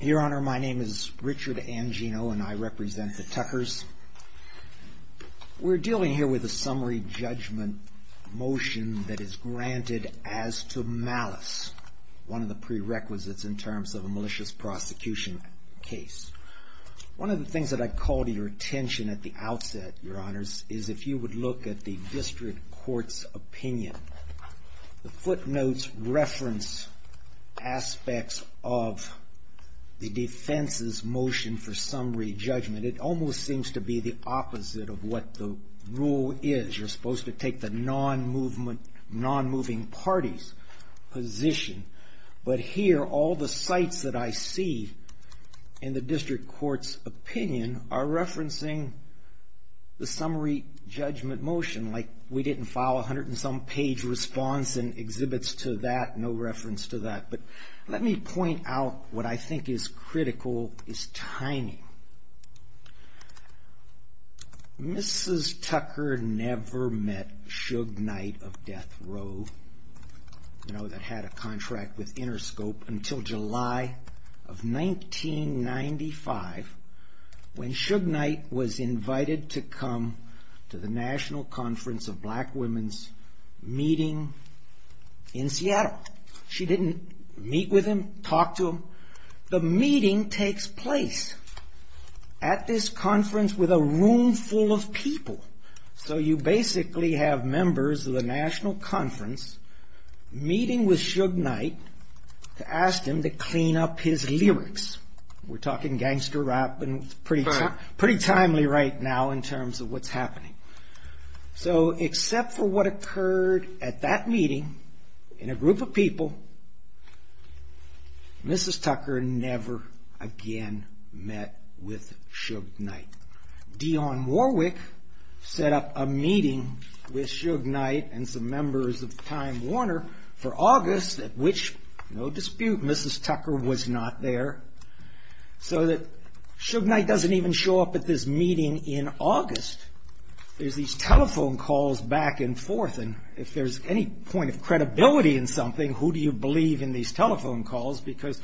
Your Honor, my name is Richard Angino, and I represent the Tuckers. We're dealing here with a summary judgment motion that is granted as to malice, one of the prerequisites in terms of a malicious prosecution case. One of the things that I'd call to your attention at the outset, Your Honors, is if you would look at the district court's opinion. The footnotes reference aspects of the defense's motion for summary judgment. It almost seems to be the opposite of what the rule is. You're supposed to take the non-moving party's position. But here, all the sites that I see in the district court's opinion are referencing the summary judgment motion, like we didn't file a hundred and some page response and exhibits to that, no reference to that. But let me point out what I think is critical, is timing. Mrs. Tucker never met Suge Knight of Death Row, that had a contract with Interscope, until July of 1995, when Suge Knight was invited to come to the National Conference of Black Women's meeting in Seattle. She didn't meet with him, talk to him. The meeting takes place at this conference with a room full of people. So you basically have members of the National Conference meeting with Suge Knight to ask him to clean up his lyrics. We're talking gangster rap, and it's pretty timely right now in terms of what's happening. So except for what occurred at that meeting, in a group of people, Mrs. Tucker never again met with Suge Knight. Dionne Warwick set up a meeting with Suge Knight and some members of Time Warner for August, at which, no dispute, Mrs. Tucker was not there. So that Suge Knight doesn't even show up at this meeting in August. There's these telephone calls back and forth, and if there's any point of credibility in something, who do you believe in these telephone calls? Because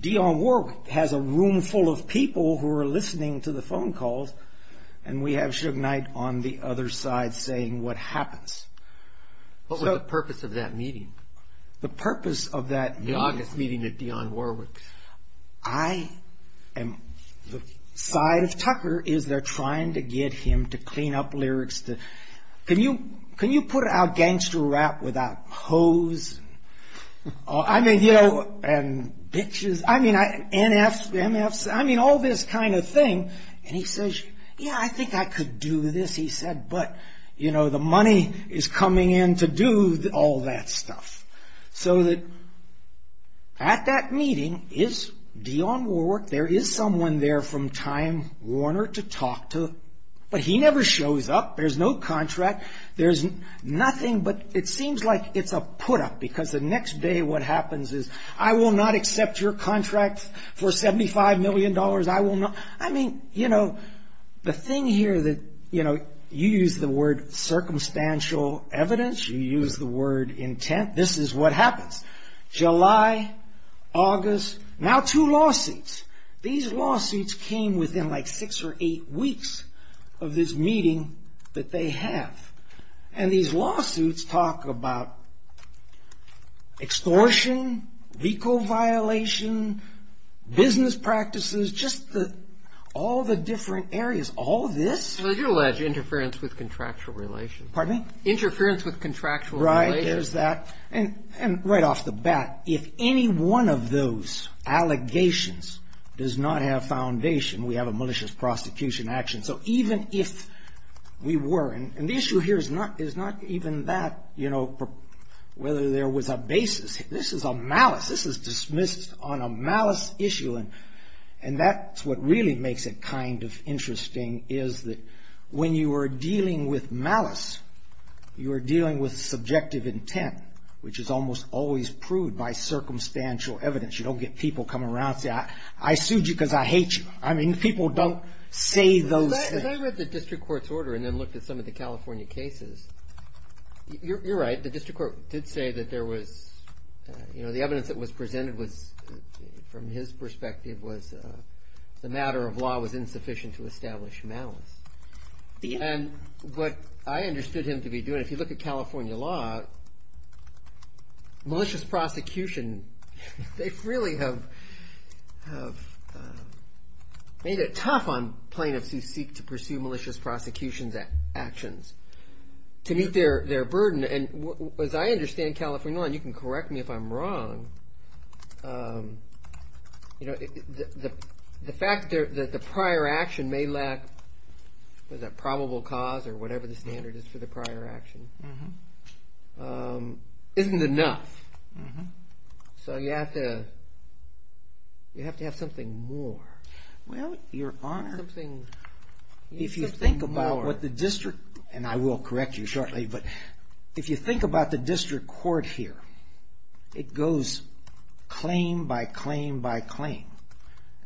Dionne Warwick has a room full of people who are listening to the phone calls, and we have Suge Knight on the other side saying what happens. What was the purpose of that meeting? The purpose of that meeting? The August meeting with Dionne Warwick. The side of Tucker is they're trying to get him to clean up lyrics. Can you put out gangster rap without hoes and bitches, NFs, MFs, all this kind of thing? And he says, yeah, I think I could do this. He said, but the money is coming in to do all that stuff. So at that meeting is Dionne Warwick. There is someone there from Time Warner to talk to, but he never shows up. There's no contract. There's nothing, but it seems like it's a put-up because the next day what happens is, I will not accept your contract for $75 million. I mean, you know, the thing here that, you know, you use the word circumstantial evidence. You use the word intent. This is what happens. July, August, now two lawsuits. These lawsuits came within like six or eight weeks of this meeting that they have, and these lawsuits talk about extortion, vehicle violation, business practices, just all the different areas. All this? Well, you allege interference with contractual relations. Pardon me? Interference with contractual relations. Right. There's that. And right off the bat, if any one of those allegations does not have foundation, we have a malicious prosecution action. So even if we were, and the issue here is not even that, you know, whether there was a basis. This is a malice. This is dismissed on a malice issue, and that's what really makes it kind of interesting, is that when you are dealing with malice, you are dealing with subjective intent, which is almost always proved by circumstantial evidence. You don't get people come around and say, I sued you because I hate you. I mean, people don't say those things. I read the district court's order and then looked at some of the California cases. You're right. The district court did say that there was, you know, the evidence that was presented was, from his perspective, was the matter of law was insufficient to establish malice. And what I understood him to be doing, if you look at California law, malicious prosecution, they really have made it tough on plaintiffs who seek to pursue malicious prosecution actions to meet their burden. And as I understand California law, and you can correct me if I'm wrong, the fact that the prior action may lack the probable cause or whatever the standard is for the prior action, isn't enough. So you have to have something more. Well, Your Honor, if you think about what the district, and I will correct you shortly, but if you think about the district court here, it goes claim by claim by claim.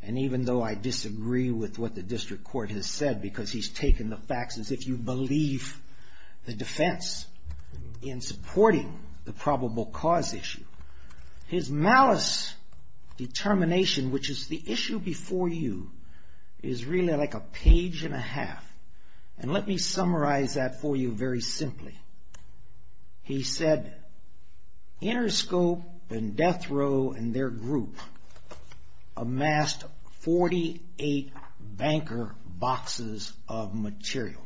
And even though I disagree with what the district court has said, because he's taken the facts as if you believe the defense in supporting the probable cause issue, his malice determination, which is the issue before you, is really like a page and a half. And let me summarize that for you very simply. He said Interscope and Death Row and their group amassed 48 banker boxes of material.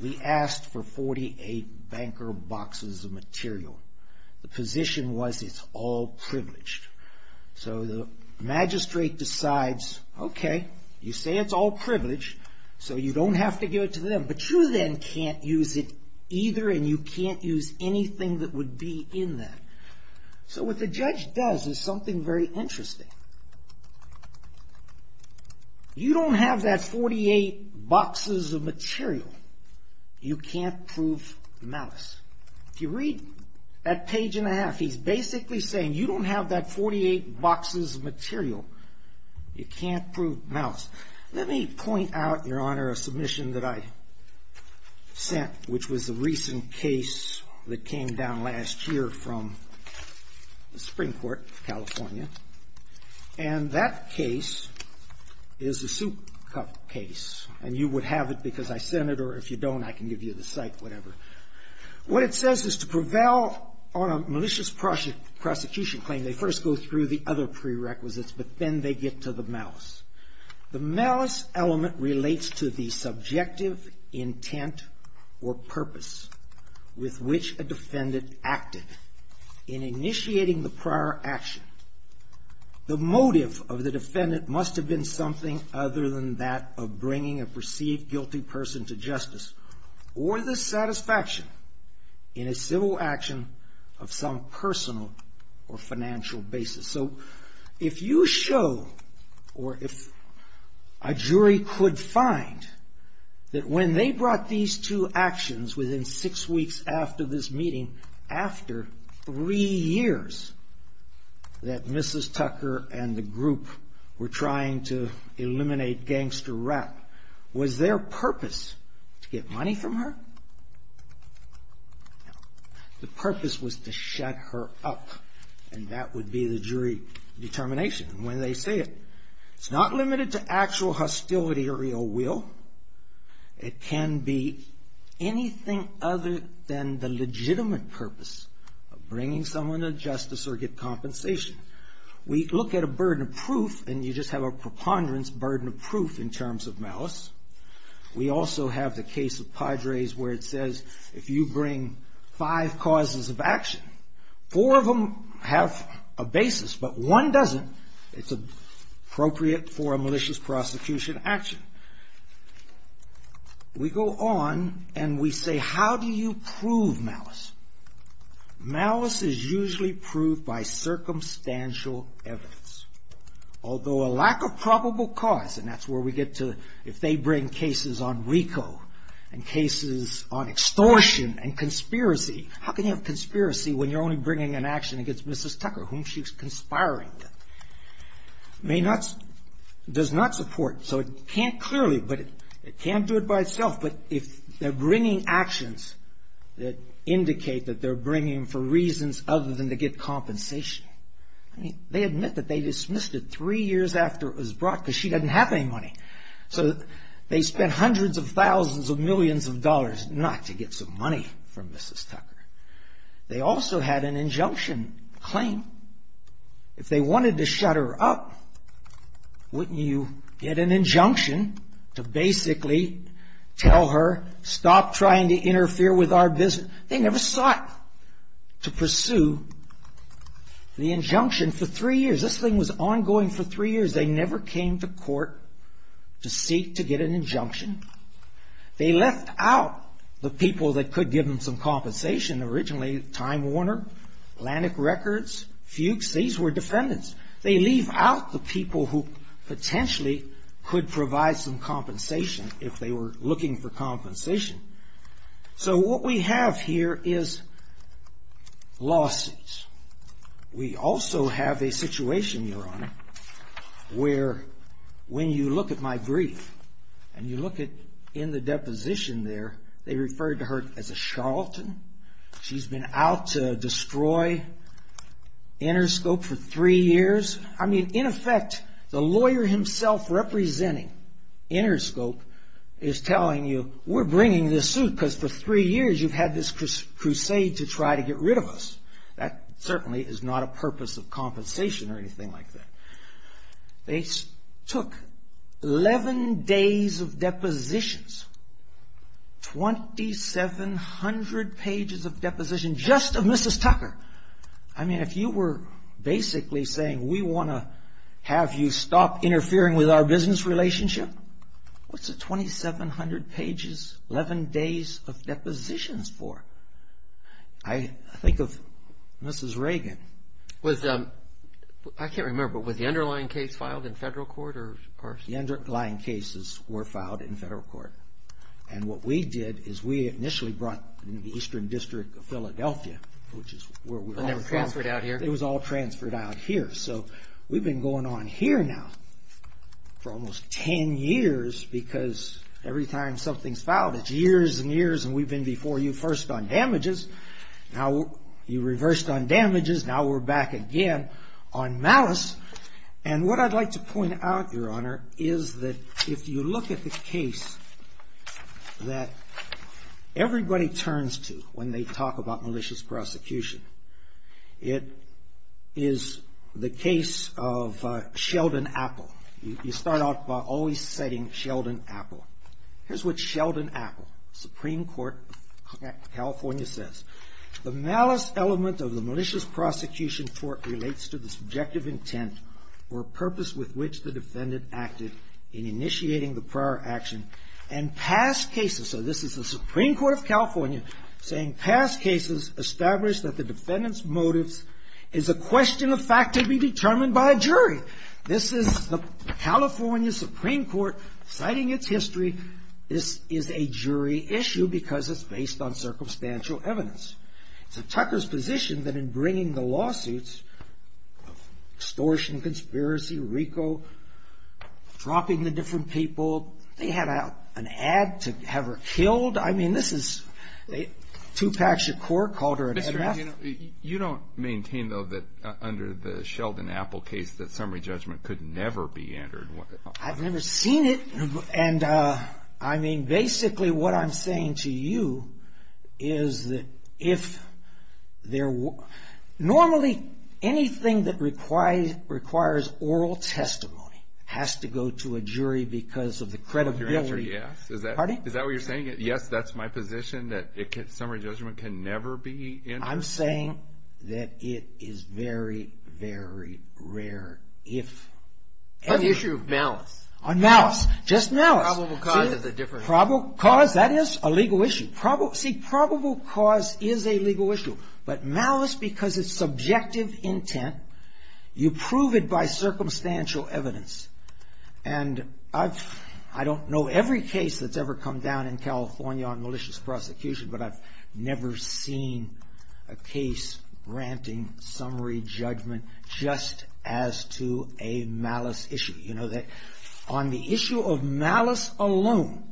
We asked for 48 banker boxes of material. The position was it's all privileged. So the magistrate decides, okay, you say it's all privileged, so you don't have to give it to them. But you then can't use it either, and you can't use anything that would be in that. So what the judge does is something very interesting. You don't have that 48 boxes of material. You can't prove malice. If you read that page and a half, he's basically saying you don't have that 48 boxes of material. You can't prove malice. Let me point out, Your Honor, a submission that I sent, which was a recent case that came down last year from the Supreme Court of California. And that case is a soup cup case. And you would have it because I sent it, or if you don't, I can give you the site, whatever. What it says is to prevail on a malicious prosecution claim, they first go through the other prerequisites, but then they get to the malice. The malice element relates to the subjective intent or purpose with which a defendant acted in initiating the prior action. The motive of the defendant must have been something other than that of bringing a perceived guilty person to justice, or the satisfaction in a civil action of some personal or financial basis. So if you show, or if a jury could find, that when they brought these two actions within six weeks after this meeting, after three years that Mrs. Tucker and the group were trying to eliminate Gangster Rap, was their purpose to get money from her? No. The purpose was to shut her up. And that would be the jury determination when they say it. It's not limited to actual hostility or ill will. It can be anything other than the legitimate purpose of bringing someone to justice or get compensation. We look at a burden of proof, and you just have a preponderance burden of proof in terms of malice. We also have the case of Padres where it says if you bring five causes of action, four of them have a basis, but one doesn't. It's appropriate for a malicious prosecution action. We go on and we say, how do you prove malice? Malice is usually proved by circumstantial evidence. Although a lack of probable cause, and that's where we get to, if they bring cases on RICO and cases on extortion and conspiracy, how can you have conspiracy when you're only bringing an action against Mrs. Tucker, whom she's conspiring with, does not support. So it can't clearly, but it can't do it by itself. But if they're bringing actions that indicate that they're bringing for reasons other than to get compensation, they admit that they dismissed it three years after it was brought because she doesn't have any money. So they spent hundreds of thousands of millions of dollars not to get some money from Mrs. Tucker. They also had an injunction claim. If they wanted to shut her up, wouldn't you get an injunction to basically tell her, stop trying to interfere with our business? They never sought to pursue the injunction for three years. This thing was ongoing for three years. They never came to court to seek to get an injunction. They left out the people that could give them some compensation. Originally, Time Warner, Atlantic Records, Fuchs, these were defendants. They leave out the people who potentially could provide some compensation if they were looking for compensation. So what we have here is lawsuits. We also have a situation, Your Honor, where when you look at my brief and you look in the deposition there, they referred to her as a charlatan. She's been out to destroy Interscope for three years. I mean, in effect, the lawyer himself representing Interscope is telling you, we're bringing this suit because for three years you've had this crusade to try to get rid of us. That certainly is not a purpose of compensation or anything like that. They took 11 days of depositions, 2,700 pages of depositions just of Mrs. Tucker. I mean, if you were basically saying we want to have you stop interfering with our business relationship, what's the 2,700 pages, 11 days of depositions for? I think of Mrs. Reagan. I can't remember, but was the underlying case filed in federal court? The underlying cases were filed in federal court. And what we did is we initially brought the Eastern District of Philadelphia, which is where we're all from. And they were transferred out here? It was all transferred out here. So we've been going on here now for almost 10 years because every time something's filed, it's years and years and we've been before you first on damages. Now you reversed on damages. Now we're back again on malice. And what I'd like to point out, Your Honor, is that if you look at the case that everybody turns to when they talk about malicious prosecution, it is the case of Sheldon Apple. You start off by always citing Sheldon Apple. Here's what Sheldon Apple, Supreme Court of California, says. The malice element of the malicious prosecution court relates to the subjective intent or purpose with which the defendant acted in initiating the prior action and past cases. So this is the Supreme Court of California saying past cases establish that the defendant's motives is a question of fact to be determined by a jury. This is the California Supreme Court citing its history. This is a jury issue because it's based on circumstantial evidence. So Tucker's position that in bringing the lawsuits, extortion, conspiracy, RICO, dropping the different people, they had an ad to have her killed. I mean, this is, Tupac Shakur called her an addressee. You don't maintain, though, that under the Sheldon Apple case that summary judgment could never be entered. I've never seen it. And, I mean, basically what I'm saying to you is that if there were, normally anything that requires oral testimony has to go to a jury because of the credibility. Is that what you're saying? Yes, that's my position that summary judgment can never be entered. I'm saying that it is very, very rare if. On the issue of malice. On malice. Just malice. Probable cause is a different. Cause, that is, a legal issue. See, probable cause is a legal issue. But malice, because it's subjective intent, you prove it by circumstantial evidence. And I don't know every case that's ever come down in California on malicious prosecution, but I've never seen a case granting summary judgment just as to a malice issue. You know, on the issue of malice alone,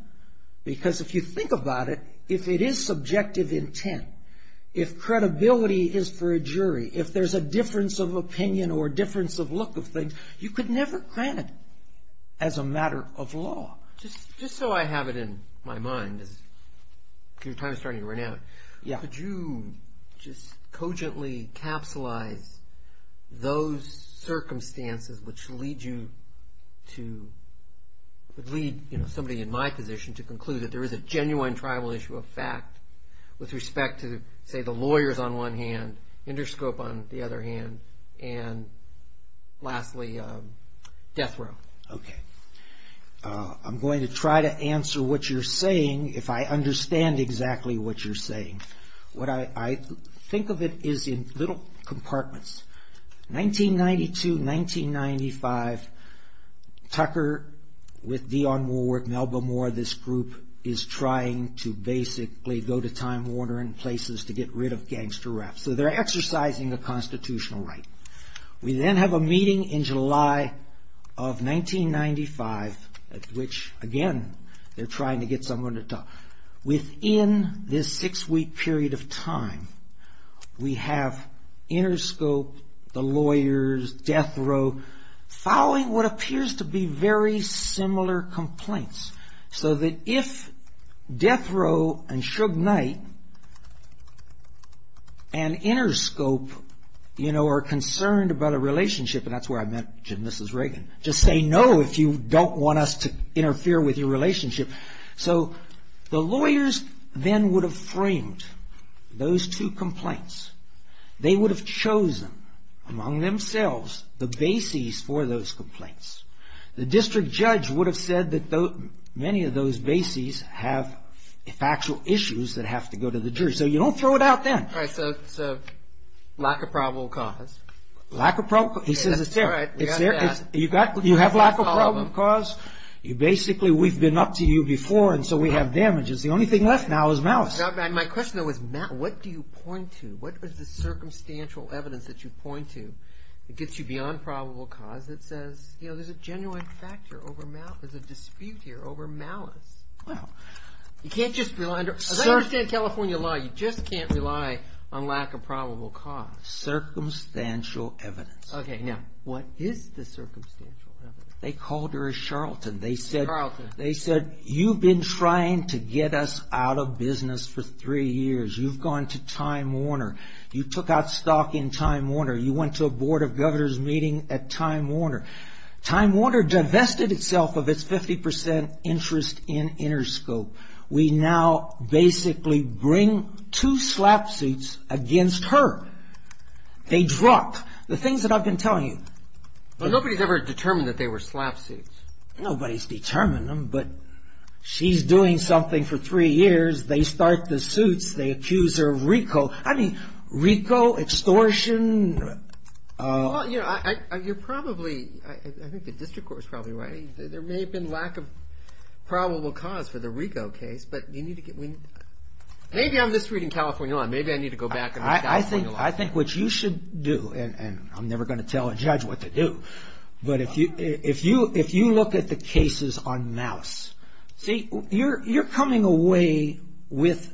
because if you think about it, if it is subjective intent, if credibility is for a jury, if there's a difference of opinion or difference of look of things, you could never grant it as a matter of law. Just so I have it in my mind, because your time is starting to run out, could you just cogently capsulize those circumstances which lead you to, would lead somebody in my position to conclude that there is a genuine tribal issue of fact with respect to, say, the lawyers on one hand, Inderscope on the other hand, and lastly, death row. Okay. I'm going to try to answer what you're saying if I understand exactly what you're saying. What I think of it is in little compartments. 1992, 1995, Tucker with Dionne Warwick, Melba Moore, this group is trying to basically go to Time Warner and places to get rid of gangster rap. So they're exercising a constitutional right. We then have a meeting in July of 1995 at which, again, they're trying to get someone to talk. Within this six-week period of time, we have Inderscope, the lawyers, death row, following what appears to be very similar complaints. So that if death row and Suge Knight and Inderscope, you know, are concerned about a relationship, and that's where I met Jim and Mrs. Reagan, just say no if you don't want us to interfere with your relationship. So the lawyers then would have framed those two complaints. They would have chosen among themselves the bases for those complaints. The district judge would have said that many of those bases have factual issues that have to go to the jury. So you don't throw it out then. All right. So lack of probable cause. Lack of probable. He says it's there. It's there. You have lack of probable cause. Basically, we've been up to you before, and so we have damages. The only thing left now is malice. My question, though, is what do you point to? What is the circumstantial evidence that you point to that gets you beyond probable cause that says, you know, there's a genuine factor over malice, there's a dispute here over malice? Well, you can't just rely. As I understand California law, you just can't rely on lack of probable cause. Circumstantial evidence. Okay. Now, what is the circumstantial evidence? They called her a charlatan. They said you've been trying to get us out of business for three years. You've gone to Time Warner. You took out stock in Time Warner. You went to a Board of Governors meeting at Time Warner. Time Warner divested itself of its 50% interest in Interscope. We now basically bring two slap suits against her. They dropped the things that I've been telling you. But nobody's ever determined that they were slap suits. Nobody's determined them, but she's doing something for three years. They start the suits. They accuse her of RICO. I mean, RICO, extortion. Well, you're probably, I think the district court is probably right. There may have been lack of probable cause for the RICO case. But you need to get, maybe I'm just reading California law. Maybe I need to go back and read California law. I think what you should do, and I'm never going to tell a judge what to do, but if you look at the cases on malice, see, you're coming away with,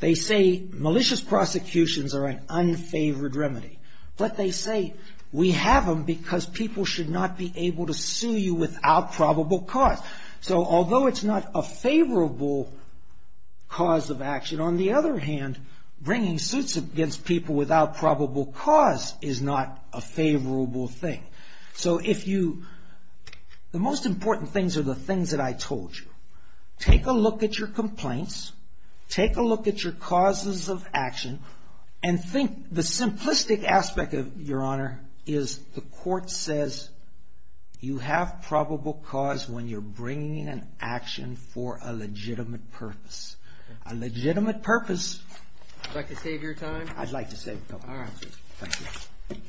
they say malicious prosecutions are an unfavored remedy. But they say we have them because people should not be able to sue you without probable cause. So although it's not a favorable cause of action, on the other hand, bringing suits against people without probable cause is not a favorable thing. So if you, the most important things are the things that I told you. Take a look at your complaints. Take a look at your causes of action. And think, the simplistic aspect, Your Honor, is the court says you have probable cause when you're bringing an action for a legitimate purpose. A legitimate purpose. Would you like to save your time? I'd like to save my time. All right. Thank you. Thank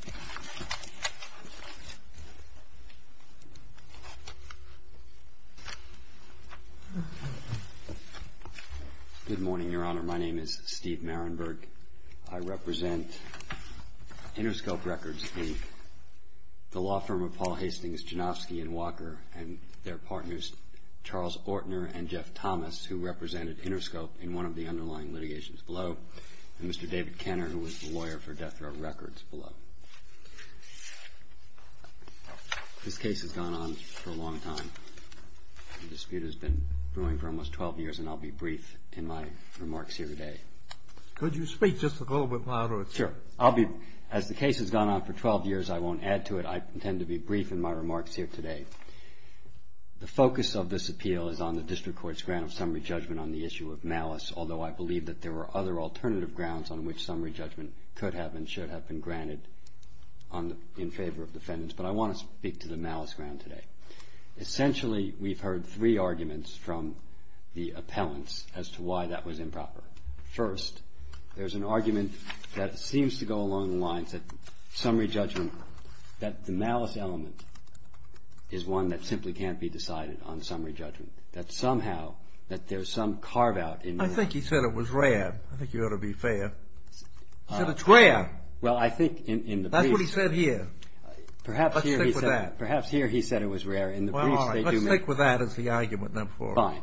you. Good morning, Your Honor. My name is Steve Marinburg. I represent Interscope Records, the law firm of Paul Hastings, Janowski, and Walker, and their partners Charles Ortner and Jeff Thomas, who represented Interscope in one of the underlying litigations below, and Mr. David Kenner, who was the lawyer for Death Row Records below. This case has gone on for a long time. The dispute has been brewing for almost 12 years, and I'll be brief in my remarks here today. Could you speak just a little bit louder? Sure. As the case has gone on for 12 years, I won't add to it. I intend to be brief in my remarks here today. The focus of this appeal is on the district court's grant of summary judgment on the issue of malice, although I believe that there were other alternative grounds on which summary judgment could have and should have been granted in favor of defendants. But I want to speak to the malice ground today. Essentially, we've heard three arguments from the appellants as to why that was improper. First, there's an argument that seems to go along the lines that summary judgment, that the malice element is one that simply can't be decided on summary judgment, that somehow that there's some carve-out in that. I think he said it was rare. I think you ought to be fair. He said it's rare. Well, I think in the briefs. That's what he said here. Perhaps here he said it was rare. In the briefs, they do make it. Well, all right. Let's stick with that as the argument, then, for us. Fine.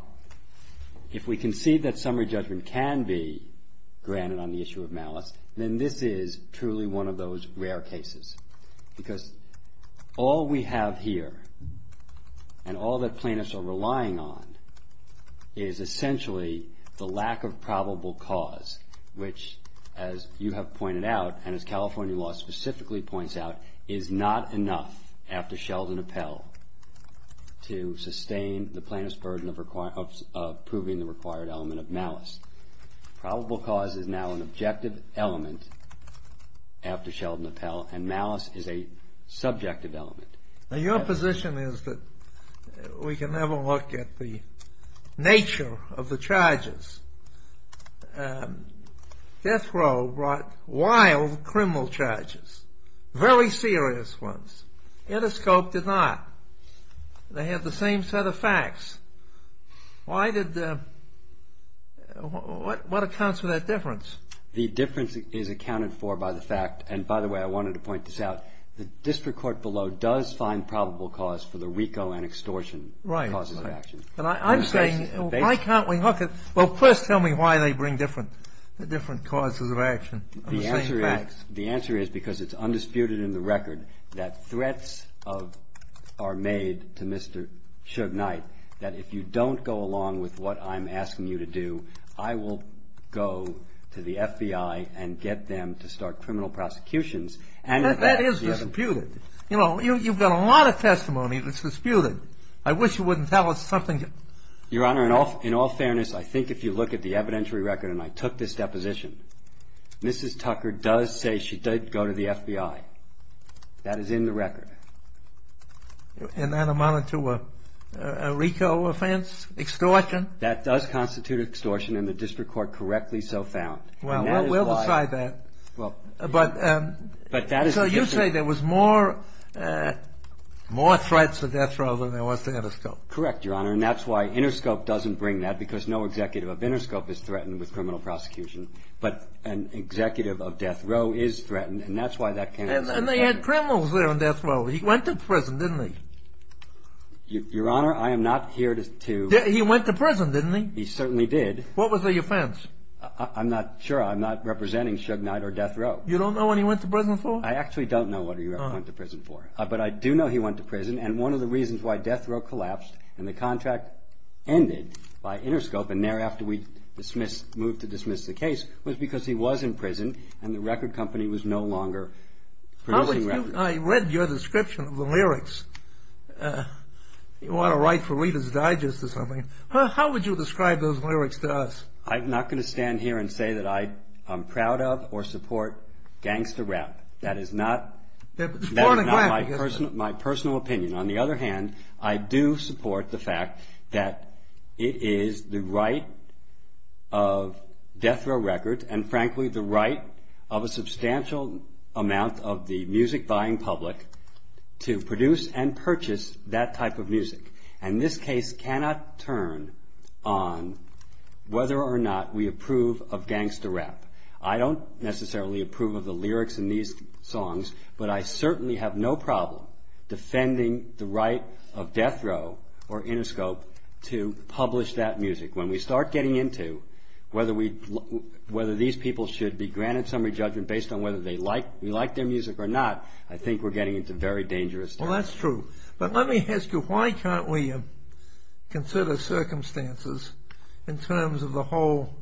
If we concede that summary judgment can be granted on the issue of malice, then this is truly one of those rare cases, because all we have here and all that plaintiffs are relying on is essentially the lack of probable cause, which, as you have pointed out and as California law specifically points out, is not enough after Sheldon Appell to sustain the plaintiff's burden of proving the required element of malice. Probable cause is now an objective element after Sheldon Appell, and malice is a subjective element. Now, your position is that we can have a look at the nature of the charges. Death Row brought wild criminal charges, very serious ones. Interscope did not. They had the same set of facts. Why did the ‑‑ what accounts for that difference? The difference is accounted for by the fact, and by the way, I wanted to point this out, the district court below does find probable cause for the RICO and extortion causes of action. Right. I'm saying why can't we look at ‑‑ well, first tell me why they bring different causes of action. The answer is because it's undisputed in the record that threats are made to Mr. Shug Knight that if you don't go along with what I'm asking you to do, I will go to the FBI and get them to start criminal prosecutions. That is disputed. You know, you've got a lot of testimony that's disputed. I wish you wouldn't tell us something. Your Honor, in all fairness, I think if you look at the evidentiary record, and I took this deposition, Mrs. Tucker does say she did go to the FBI. That is in the record. And that amounted to a RICO offense, extortion. That does constitute extortion, and the district court correctly so found. Well, we'll decide that. But that is ‑‑ So you say there was more threats to Death Row than there was to Interscope. Correct, Your Honor, and that's why Interscope doesn't bring that because no executive of Interscope is threatened with criminal prosecution, but an executive of Death Row is threatened, and that's why that can't be ‑‑ And they had criminals there in Death Row. He went to prison, didn't he? Your Honor, I am not here to ‑‑ He went to prison, didn't he? He certainly did. What was the offense? I'm not sure. I'm not representing Suge Knight or Death Row. You don't know what he went to prison for? I actually don't know what he went to prison for, but I do know he went to prison, and one of the reasons why Death Row collapsed and the contract ended by Interscope and thereafter we moved to dismiss the case was because he was in prison and the record company was no longer producing records. I read your description of the lyrics. You want to write for Reader's Digest or something. How would you describe those lyrics to us? I'm not going to stand here and say that I'm proud of or support gangster rap. That is not my personal opinion. On the other hand, I do support the fact that it is the right of Death Row Records and, frankly, the right of a substantial amount of the music-buying public to produce and purchase that type of music, and this case cannot turn on whether or not we approve of gangster rap. I don't necessarily approve of the lyrics in these songs, but I certainly have no problem defending the right of Death Row or Interscope to publish that music. When we start getting into whether these people should be granted summary judgment based on whether we like their music or not, I think we're getting into very dangerous stuff. Well, that's true, but let me ask you, why can't we consider circumstances in terms of the whole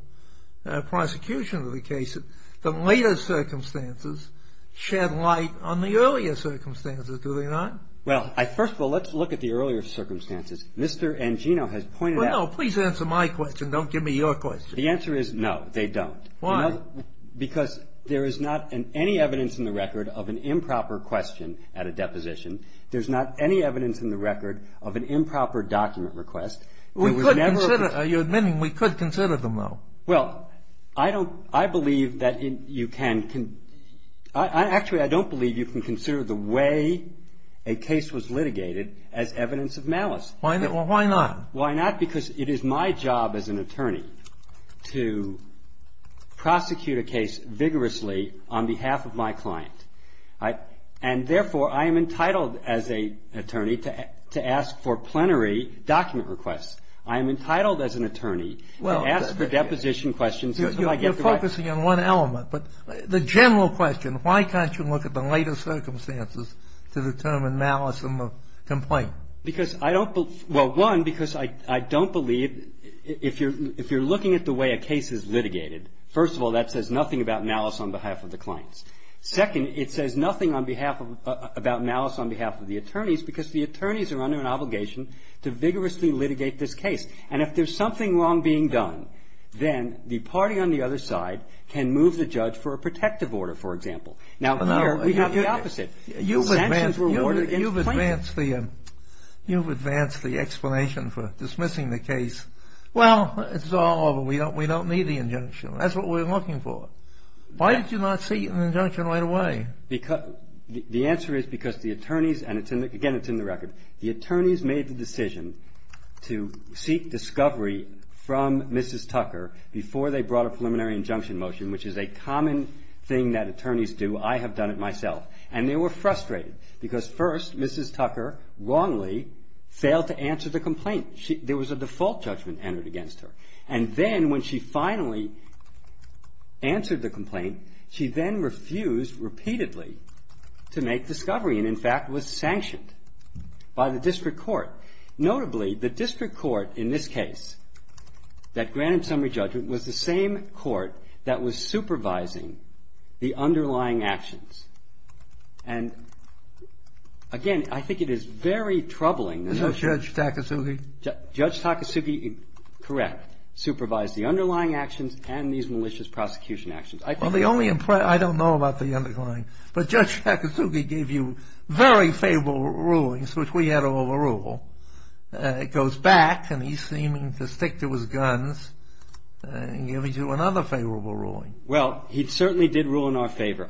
prosecution of the case that later circumstances shed light on the earlier circumstances, do they not? Well, first of all, let's look at the earlier circumstances. Mr. Angino has pointed out- Well, no, please answer my question. Don't give me your question. The answer is no, they don't. Why? Because there is not any evidence in the record of an improper question at a deposition. There's not any evidence in the record of an improper document request. We could consider- You're admitting we could consider them, though. Well, I believe that you can. Actually, I don't believe you can consider the way a case was litigated as evidence of malice. Well, why not? Why not? Because it is my job as an attorney to prosecute a case vigorously on behalf of my client. And therefore, I am entitled as an attorney to ask for plenary document requests. I am entitled as an attorney to ask for deposition questions- You're focusing on one element, but the general question, why can't you look at the later circumstances to determine malice in the complaint? Because I don't believe – well, one, because I don't believe if you're looking at the way a case is litigated, first of all, that says nothing about malice on behalf of the clients. Second, it says nothing on behalf of – about malice on behalf of the attorneys because the attorneys are under an obligation to vigorously litigate this case. And if there's something wrong being done, then the party on the other side can move the judge for a protective order, for example. Now, here we have the opposite. You've advanced the – you've advanced the explanation for dismissing the case. Well, it's all over. We don't need the injunction. That's what we're looking for. Why did you not seek an injunction right away? The answer is because the attorneys – and again, it's in the record. The attorneys made the decision to seek discovery from Mrs. Tucker before they brought a preliminary injunction motion, which is a common thing that attorneys do. I have done it myself. And they were frustrated because first, Mrs. Tucker wrongly failed to answer the complaint. There was a default judgment entered against her. And then when she finally answered the complaint, she then refused repeatedly to make discovery and, in fact, was sanctioned by the district court. Notably, the district court in this case that granted summary judgment was the same court that was supervising the underlying actions. And, again, I think it is very troubling. Isn't that Judge Takasugi? Judge Takasugi, correct, supervised the underlying actions and these malicious prosecution actions. Well, the only – I don't know about the underlying. But Judge Takasugi gave you very favorable rulings, which we had overrule. It goes back, and he's seeming to stick to his guns in giving you another favorable ruling. Well, he certainly did rule in our favor.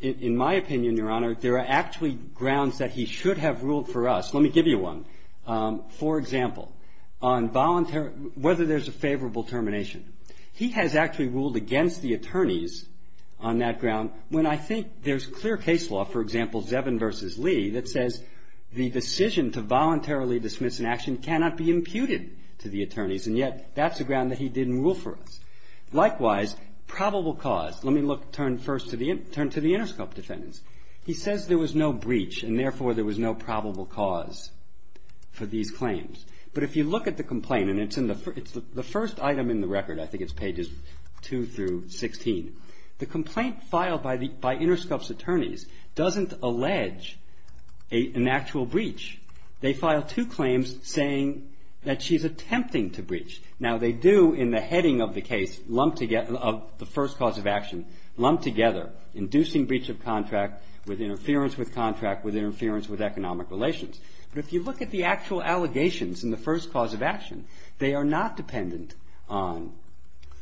In my opinion, Your Honor, there are actually grounds that he should have ruled for us. Let me give you one. For example, on voluntary – whether there's a favorable termination. He has actually ruled against the attorneys on that ground when I think there's clear case law, for example, Zevin v. Lee, that says the decision to voluntarily dismiss an action cannot be imputed to the attorneys, and yet that's a ground that he didn't rule for us. Likewise, probable cause. Let me look – turn first to the – turn to the Interscope defendants. He says there was no breach, and, therefore, there was no probable cause for these claims. But if you look at the complaint, and it's in the – it's the first item in the record. I think it's pages 2 through 16. The complaint filed by the – by Interscope's attorneys doesn't allege an actual breach. They file two claims saying that she's attempting to breach. Now, they do, in the heading of the case, lump together – of the first cause of action, lump together inducing breach of contract with interference with contract, with interference with economic relations. But if you look at the actual allegations in the first cause of action, they are not dependent on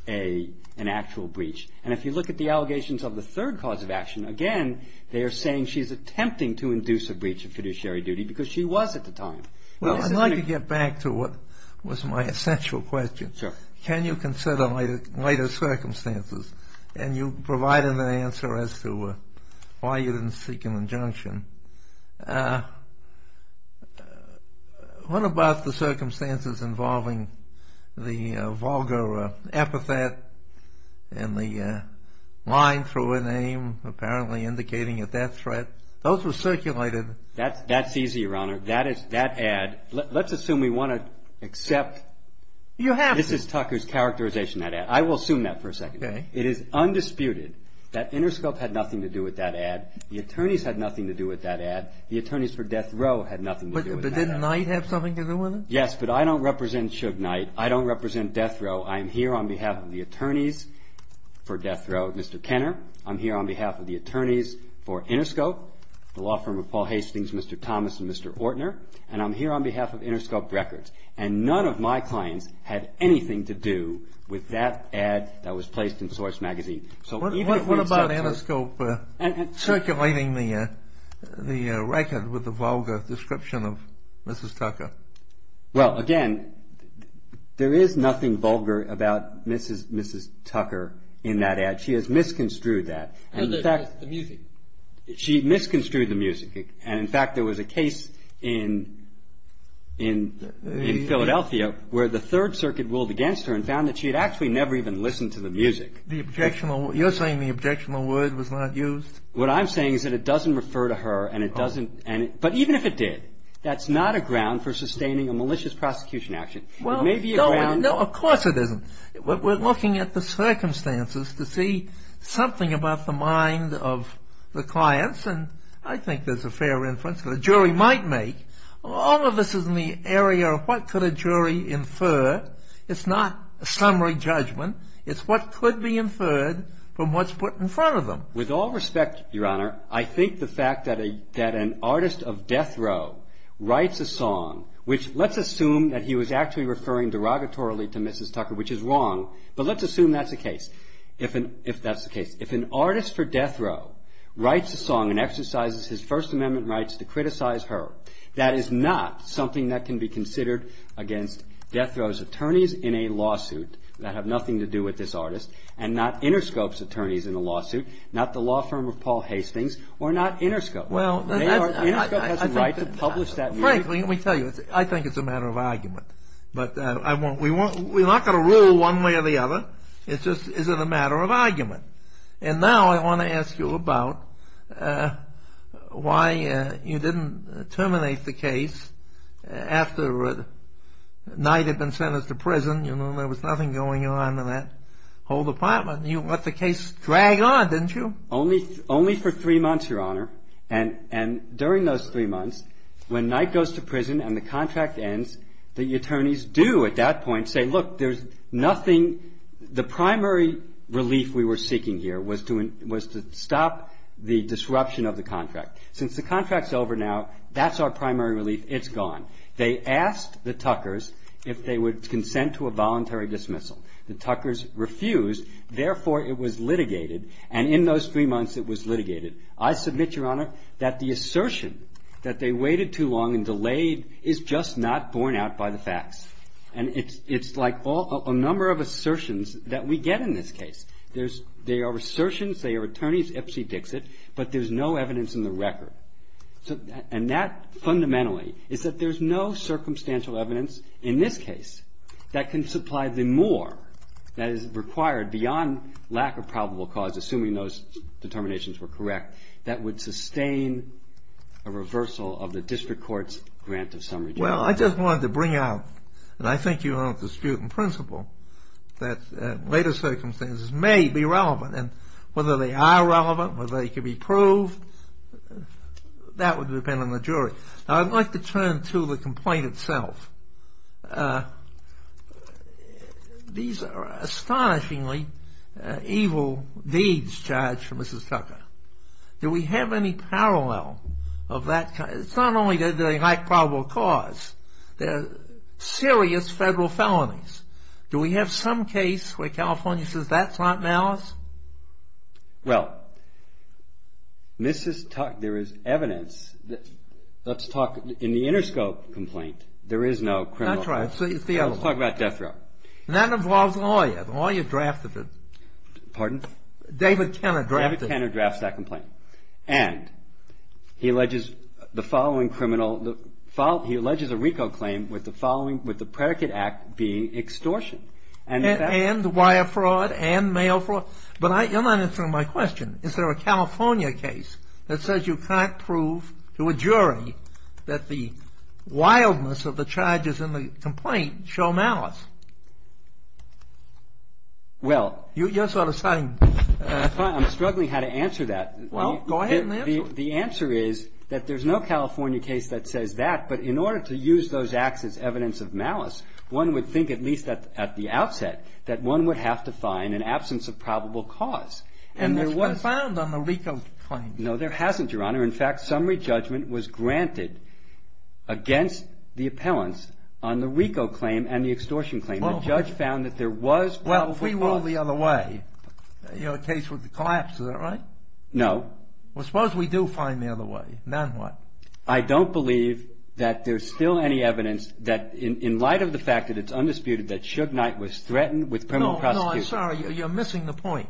an actual breach. And if you look at the allegations of the third cause of action, again, they are saying she's attempting to induce a breach of fiduciary duty because she was at the time. Well, I'd like to get back to what was my essential question. Sure. Can you consider later circumstances? And you provided an answer as to why you didn't seek an injunction. What about the circumstances involving the vulgar epithet and the line through a name apparently indicating a death threat? Those were circulated. That's easy, Your Honor. That is – that ad – let's assume we want to accept. You have to. This is Tucker's characterization of that ad. I will assume that for a second. Okay. It is undisputed that Interscope had nothing to do with that ad. The attorneys had nothing to do with that ad. The attorneys for Death Row had nothing to do with that ad. But didn't Knight have something to do with it? Yes, but I don't represent Suge Knight. I don't represent Death Row. I am here on behalf of the attorneys for Death Row, Mr. Kenner. I'm here on behalf of the attorneys for Interscope, the law firm of Paul Hastings, Mr. Thomas, and Mr. Ortner. And I'm here on behalf of Interscope Records. And none of my clients had anything to do with that ad that was placed in Source magazine. What about Interscope circulating the record with the vulgar description of Mrs. Tucker? Well, again, there is nothing vulgar about Mrs. Tucker in that ad. She has misconstrued that. The music. She misconstrued the music. And, in fact, there was a case in Philadelphia where the Third Circuit ruled against her and found that she had actually never even listened to the music. You're saying the objectionable word was not used? What I'm saying is that it doesn't refer to her and it doesn't. But even if it did, that's not a ground for sustaining a malicious prosecution action. It may be a ground. No, of course it isn't. We're looking at the circumstances to see something about the mind of the clients. And I think there's a fair reference that a jury might make. All of this is in the area of what could a jury infer. It's not a summary judgment. It's what could be inferred from what's put in front of them. With all respect, Your Honor, I think the fact that an artist of death row writes a song, which let's assume that he was actually referring derogatorily to Mrs. Tucker, which is wrong, but let's assume that's the case, if that's the case. If an artist for death row writes a song and exercises his First Amendment rights to criticize her, that is not something that can be considered against death row's attorneys in a lawsuit that have nothing to do with this artist and not Interscope's attorneys in a lawsuit, not the law firm of Paul Hastings, or not Interscope. Interscope has a right to publish that music. Frankly, let me tell you, I think it's a matter of argument. But we're not going to rule one way or the other. It's just is it a matter of argument. And now I want to ask you about why you didn't terminate the case after Knight had been sentenced to prison. You know, there was nothing going on in that whole department. You let the case drag on, didn't you? Only for three months, Your Honor. And during those three months, when Knight goes to prison and the contract ends, the attorneys do at that point say, look, there's nothing. The primary relief we were seeking here was to stop the disruption of the contract. Since the contract's over now, that's our primary relief. It's gone. They asked the Tuckers if they would consent to a voluntary dismissal. The Tuckers refused. Therefore, it was litigated. And in those three months, it was litigated. I submit, Your Honor, that the assertion that they waited too long and delayed is just not borne out by the facts. And it's like a number of assertions that we get in this case. There are assertions. There are attorneys. Epstein dicks it. But there's no evidence in the record. And that, fundamentally, is that there's no circumstantial evidence in this case that can supply the more that is required beyond lack of probable cause, assuming those determinations were correct, that would sustain a reversal of the district court's grant of summary damages. Well, I just wanted to bring out, and I think you don't dispute in principle, that later circumstances may be relevant. And whether they are relevant, whether they can be proved, that would depend on the jury. Now, I'd like to turn to the complaint itself. These are astonishingly evil deeds charged for Mrs. Tucker. Do we have any parallel of that? It's not only the lack of probable cause. They're serious federal felonies. Do we have some case where California says that's not malice? Well, Mrs. Tucker, there is evidence. Let's talk, in the Interscope complaint, there is no criminal. That's right. It's the other one. Let's talk about death row. And that involves a lawyer. The lawyer drafted it. Pardon? David Kenner drafted it. David Kenner drafts that complaint. And he alleges the following criminal, he alleges a RICO claim with the following, with the predicate act being extortion. And wire fraud and mail fraud. But you're not answering my question. Is there a California case that says you can't prove to a jury that the wildness of the charges in the complaint show malice? Well. You're sort of saying. I'm struggling how to answer that. Well, go ahead and answer it. The answer is that there's no California case that says that. But in order to use those acts as evidence of malice, one would think at least at the outset that one would have to find an absence of probable cause. And it's been found on the RICO claim. No, there hasn't, Your Honor. In fact, summary judgment was granted against the appellants on the RICO claim and the extortion claim. The judge found that there was probably. Well, if we roll the other way, you know, the case would collapse. Is that right? No. Well, suppose we do find the other way. Then what? I don't believe that there's still any evidence that in light of the fact that it's undisputed that Suge Knight was threatened with criminal prosecution. No, I'm sorry. You're missing the point.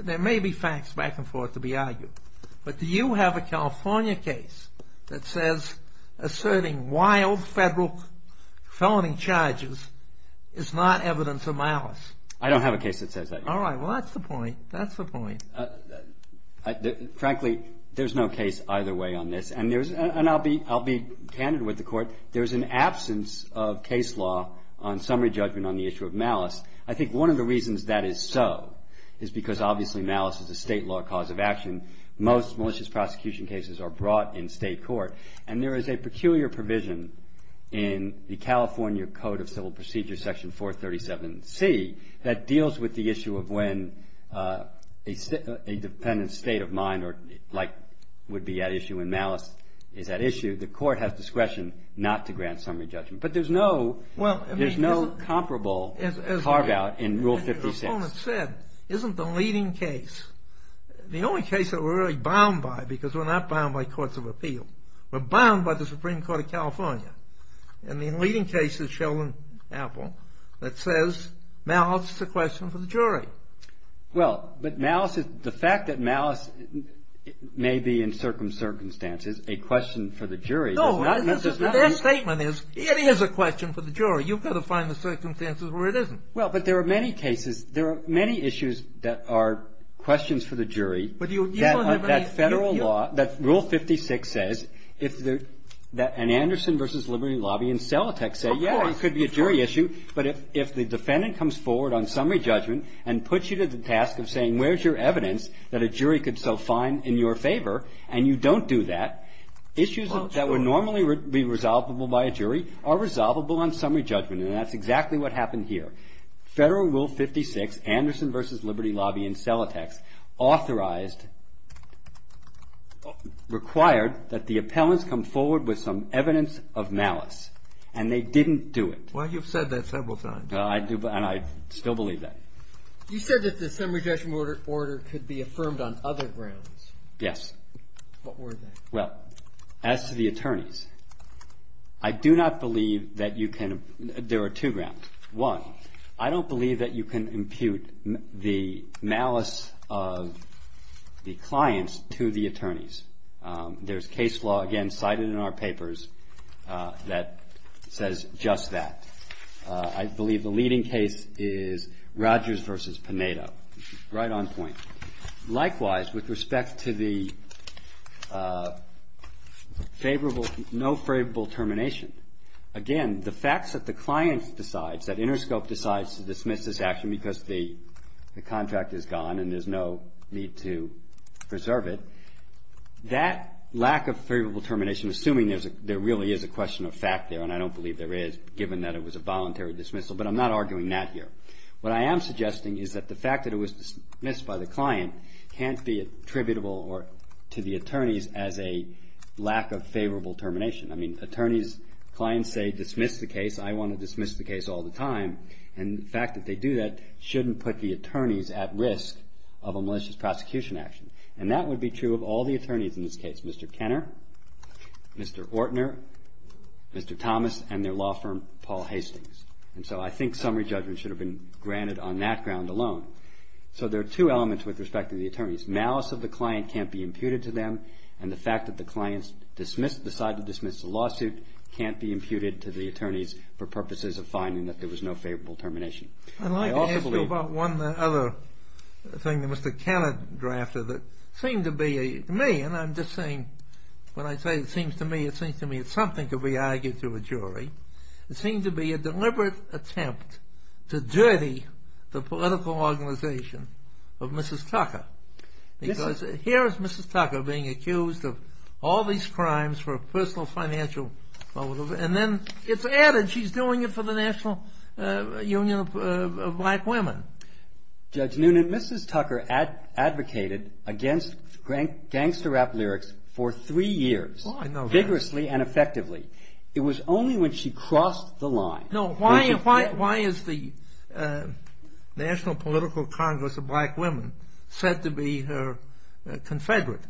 There may be facts back and forth to be argued. But do you have a California case that says asserting wild federal felony charges is not evidence of malice? I don't have a case that says that. All right. Well, that's the point. That's the point. Frankly, there's no case either way on this. And I'll be candid with the Court. There's an absence of case law on summary judgment on the issue of malice. I think one of the reasons that is so is because obviously malice is a state law cause of action. Most malicious prosecution cases are brought in state court. And there is a peculiar provision in the California Code of Civil Procedure, Section 437C, that deals with the issue of when a dependent state of mind like would be at issue when malice is at issue. The court has discretion not to grant summary judgment. But there's no comparable carve out in Rule 56. As the proponent said, isn't the leading case, the only case that we're really bound by because we're not bound by courts of appeal, we're bound by the Supreme Court of California. And the leading case is Sheldon Apple that says malice is a question for the jury. Well, but malice is the fact that malice may be in certain circumstances a question for the jury. No. Their statement is it is a question for the jury. You've got to find the circumstances where it isn't. Well, but there are many cases, there are many issues that are questions for the jury. But that Federal law, that Rule 56 says, if the Anderson v. Liberty Lobby and Celotex say, yeah, it could be a jury issue, but if the defendant comes forward on summary judgment and puts you to the task of saying, where's your evidence that a jury could so fine in your favor, and you don't do that, issues that would normally be resolvable by a jury are resolvable on summary judgment, and that's exactly what happened here. Federal Rule 56, Anderson v. Liberty Lobby and Celotex, authorized, required that the appellants come forward with some evidence of malice, and they didn't do it. Well, you've said that several times. I do, and I still believe that. You said that the summary judgment order could be affirmed on other grounds. Yes. What were they? Well, as to the attorneys, I do not believe that you can, there are two grounds. One, I don't believe that you can impute the malice of the clients to the attorneys. There's case law, again, cited in our papers, that says just that. I believe the leading case is Rogers v. Paneto, right on point. Likewise, with respect to the favorable, no favorable termination, again, the facts that the client decides, that Interscope decides to dismiss this action because the contract is gone and there's no need to preserve it, that lack of favorable termination, assuming there really is a question of fact there, and I don't believe there is, given that it was a voluntary dismissal, but I'm not arguing that here. What I am suggesting is that the fact that it was dismissed by the client can't be attributable to the attorneys as a lack of favorable termination. I mean, attorneys, clients say dismiss the case, I want to dismiss the case all the time, and the fact that they do that shouldn't put the attorneys at risk of a malicious prosecution action. And that would be true of all the attorneys in this case. Mr. Kenner, Mr. Ortner, Mr. Thomas, and their law firm, Paul Hastings. And so I think summary judgment should have been granted on that ground alone. So there are two elements with respect to the attorneys. Malice of the client can't be imputed to them, and the fact that the client decided to dismiss the lawsuit can't be imputed to the attorneys for purposes of finding that there was no favorable termination. I'd like to ask you about one other thing that Mr. Kenner drafted that seemed to be, to me, and I'm just saying, when I say it seems to me, it seems to me it's something to be argued to a jury. It seemed to be a deliberate attempt to dirty the political organization of Mrs. Tucker. Because here is Mrs. Tucker being accused of all these crimes for personal financial, and then it's added she's doing it for the National Union of Black Women. Judge Noonan, Mrs. Tucker advocated against gangster rap lyrics for three years. Oh, I know that. Vigorously and effectively. It was only when she crossed the line. No, why is the National Political Congress of Black Women said to be her confederate?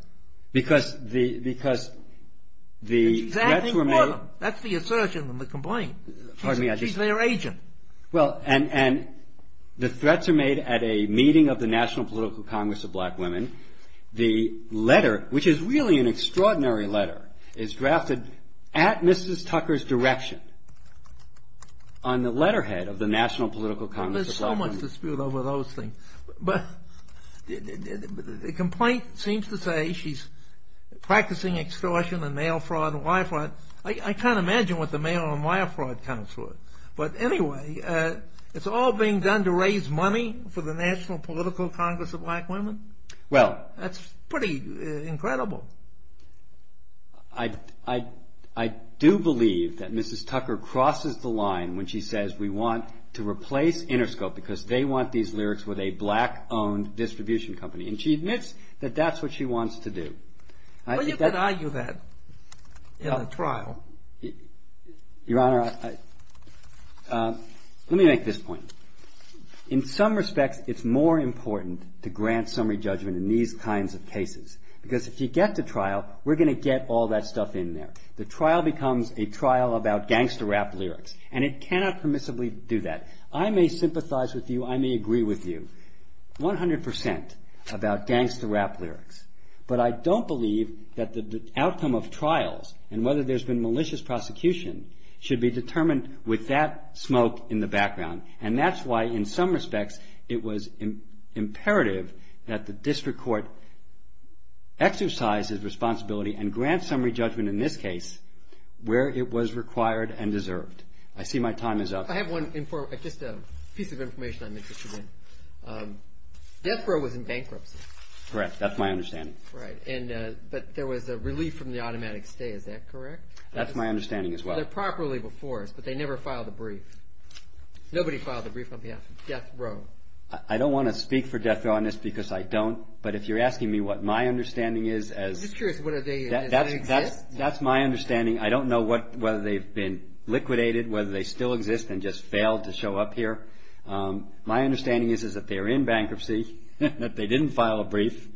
Because the threats were made. That's the assertion and the complaint. She's their agent. Well, and the threats are made at a meeting of the National Political Congress of Black Women. The letter, which is really an extraordinary letter, is drafted at Mrs. Tucker's direction on the letterhead of the National Political Congress of Black Women. There's so much dispute over those things. But the complaint seems to say she's practicing extortion and mail fraud and wire fraud. I can't imagine what the mail and wire fraud counts for. But anyway, it's all being done to raise money for the National Political Congress of Black Women? Well. That's pretty incredible. I do believe that Mrs. Tucker crosses the line when she says we want to replace Interscope because they want these lyrics with a black-owned distribution company. And she admits that that's what she wants to do. Well, you could argue that in a trial. Your Honor, let me make this point. In some respects, it's more important to grant summary judgment in these kinds of cases because if you get to trial, we're going to get all that stuff in there. The trial becomes a trial about gangster rap lyrics. And it cannot permissibly do that. I may sympathize with you. I may agree with you 100 percent about gangster rap lyrics. But I don't believe that the outcome of trials and whether there's been malicious prosecution should be determined with that smoke in the background. And that's why, in some respects, it was imperative that the district court exercise its responsibility and grant summary judgment in this case where it was required and deserved. I see my time is up. I have one piece of information I'm interested in. Death Row was in bankruptcy. Correct. That's my understanding. Right. But there was a relief from the automatic stay. Is that correct? That's my understanding as well. They're properly before us, but they never filed a brief. Nobody filed a brief on behalf of Death Row. I don't want to speak for Death Row on this because I don't. But if you're asking me what my understanding is as— I'm just curious. Does that exist? That's my understanding. I don't know whether they've been liquidated, whether they still exist and just failed to show up here. My understanding is that they're in bankruptcy, that they didn't file a brief,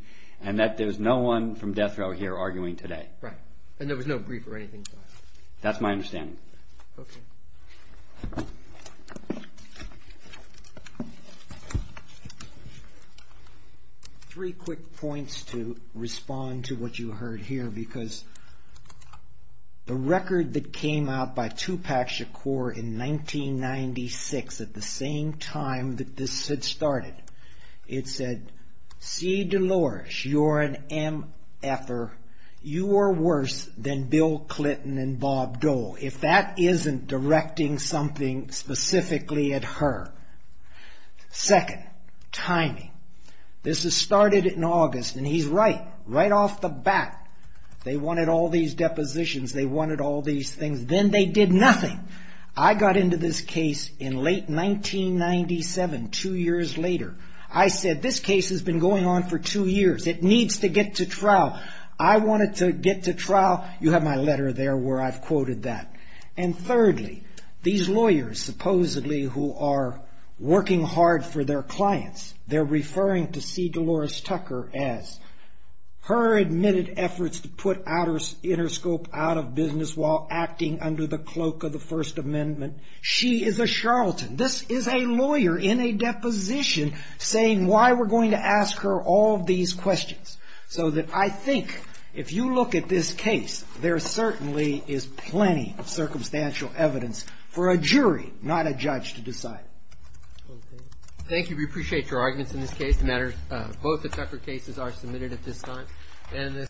and that there's no one from Death Row here arguing today. Right. And there was no brief or anything filed. That's my understanding. Okay. Three quick points to respond to what you heard here, because the record that came out by Tupac Shakur in 1996, at the same time that this had started, it said, C. Delores, you're an MF-er. You are worse than Bill Clinton and Bob Dole, if that isn't directing something specifically at her. Second, timing. This has started in August, and he's right, right off the bat. They wanted all these depositions. They wanted all these things. Then they did nothing. I got into this case in late 1997, two years later. I said, this case has been going on for two years. It needs to get to trial. I want it to get to trial. You have my letter there where I've quoted that. And thirdly, these lawyers supposedly who are working hard for their clients, they're referring to C. Delores Tucker as her admitted efforts to put Interscope out of business while acting under the cloak of the First Amendment. She is a charlatan. This is a lawyer in a deposition saying why we're going to ask her all these questions. So that I think if you look at this case, there certainly is plenty of circumstantial evidence for a jury, not a judge, to decide. Thank you. We appreciate your arguments in this case. Both the Tucker cases are submitted at this time.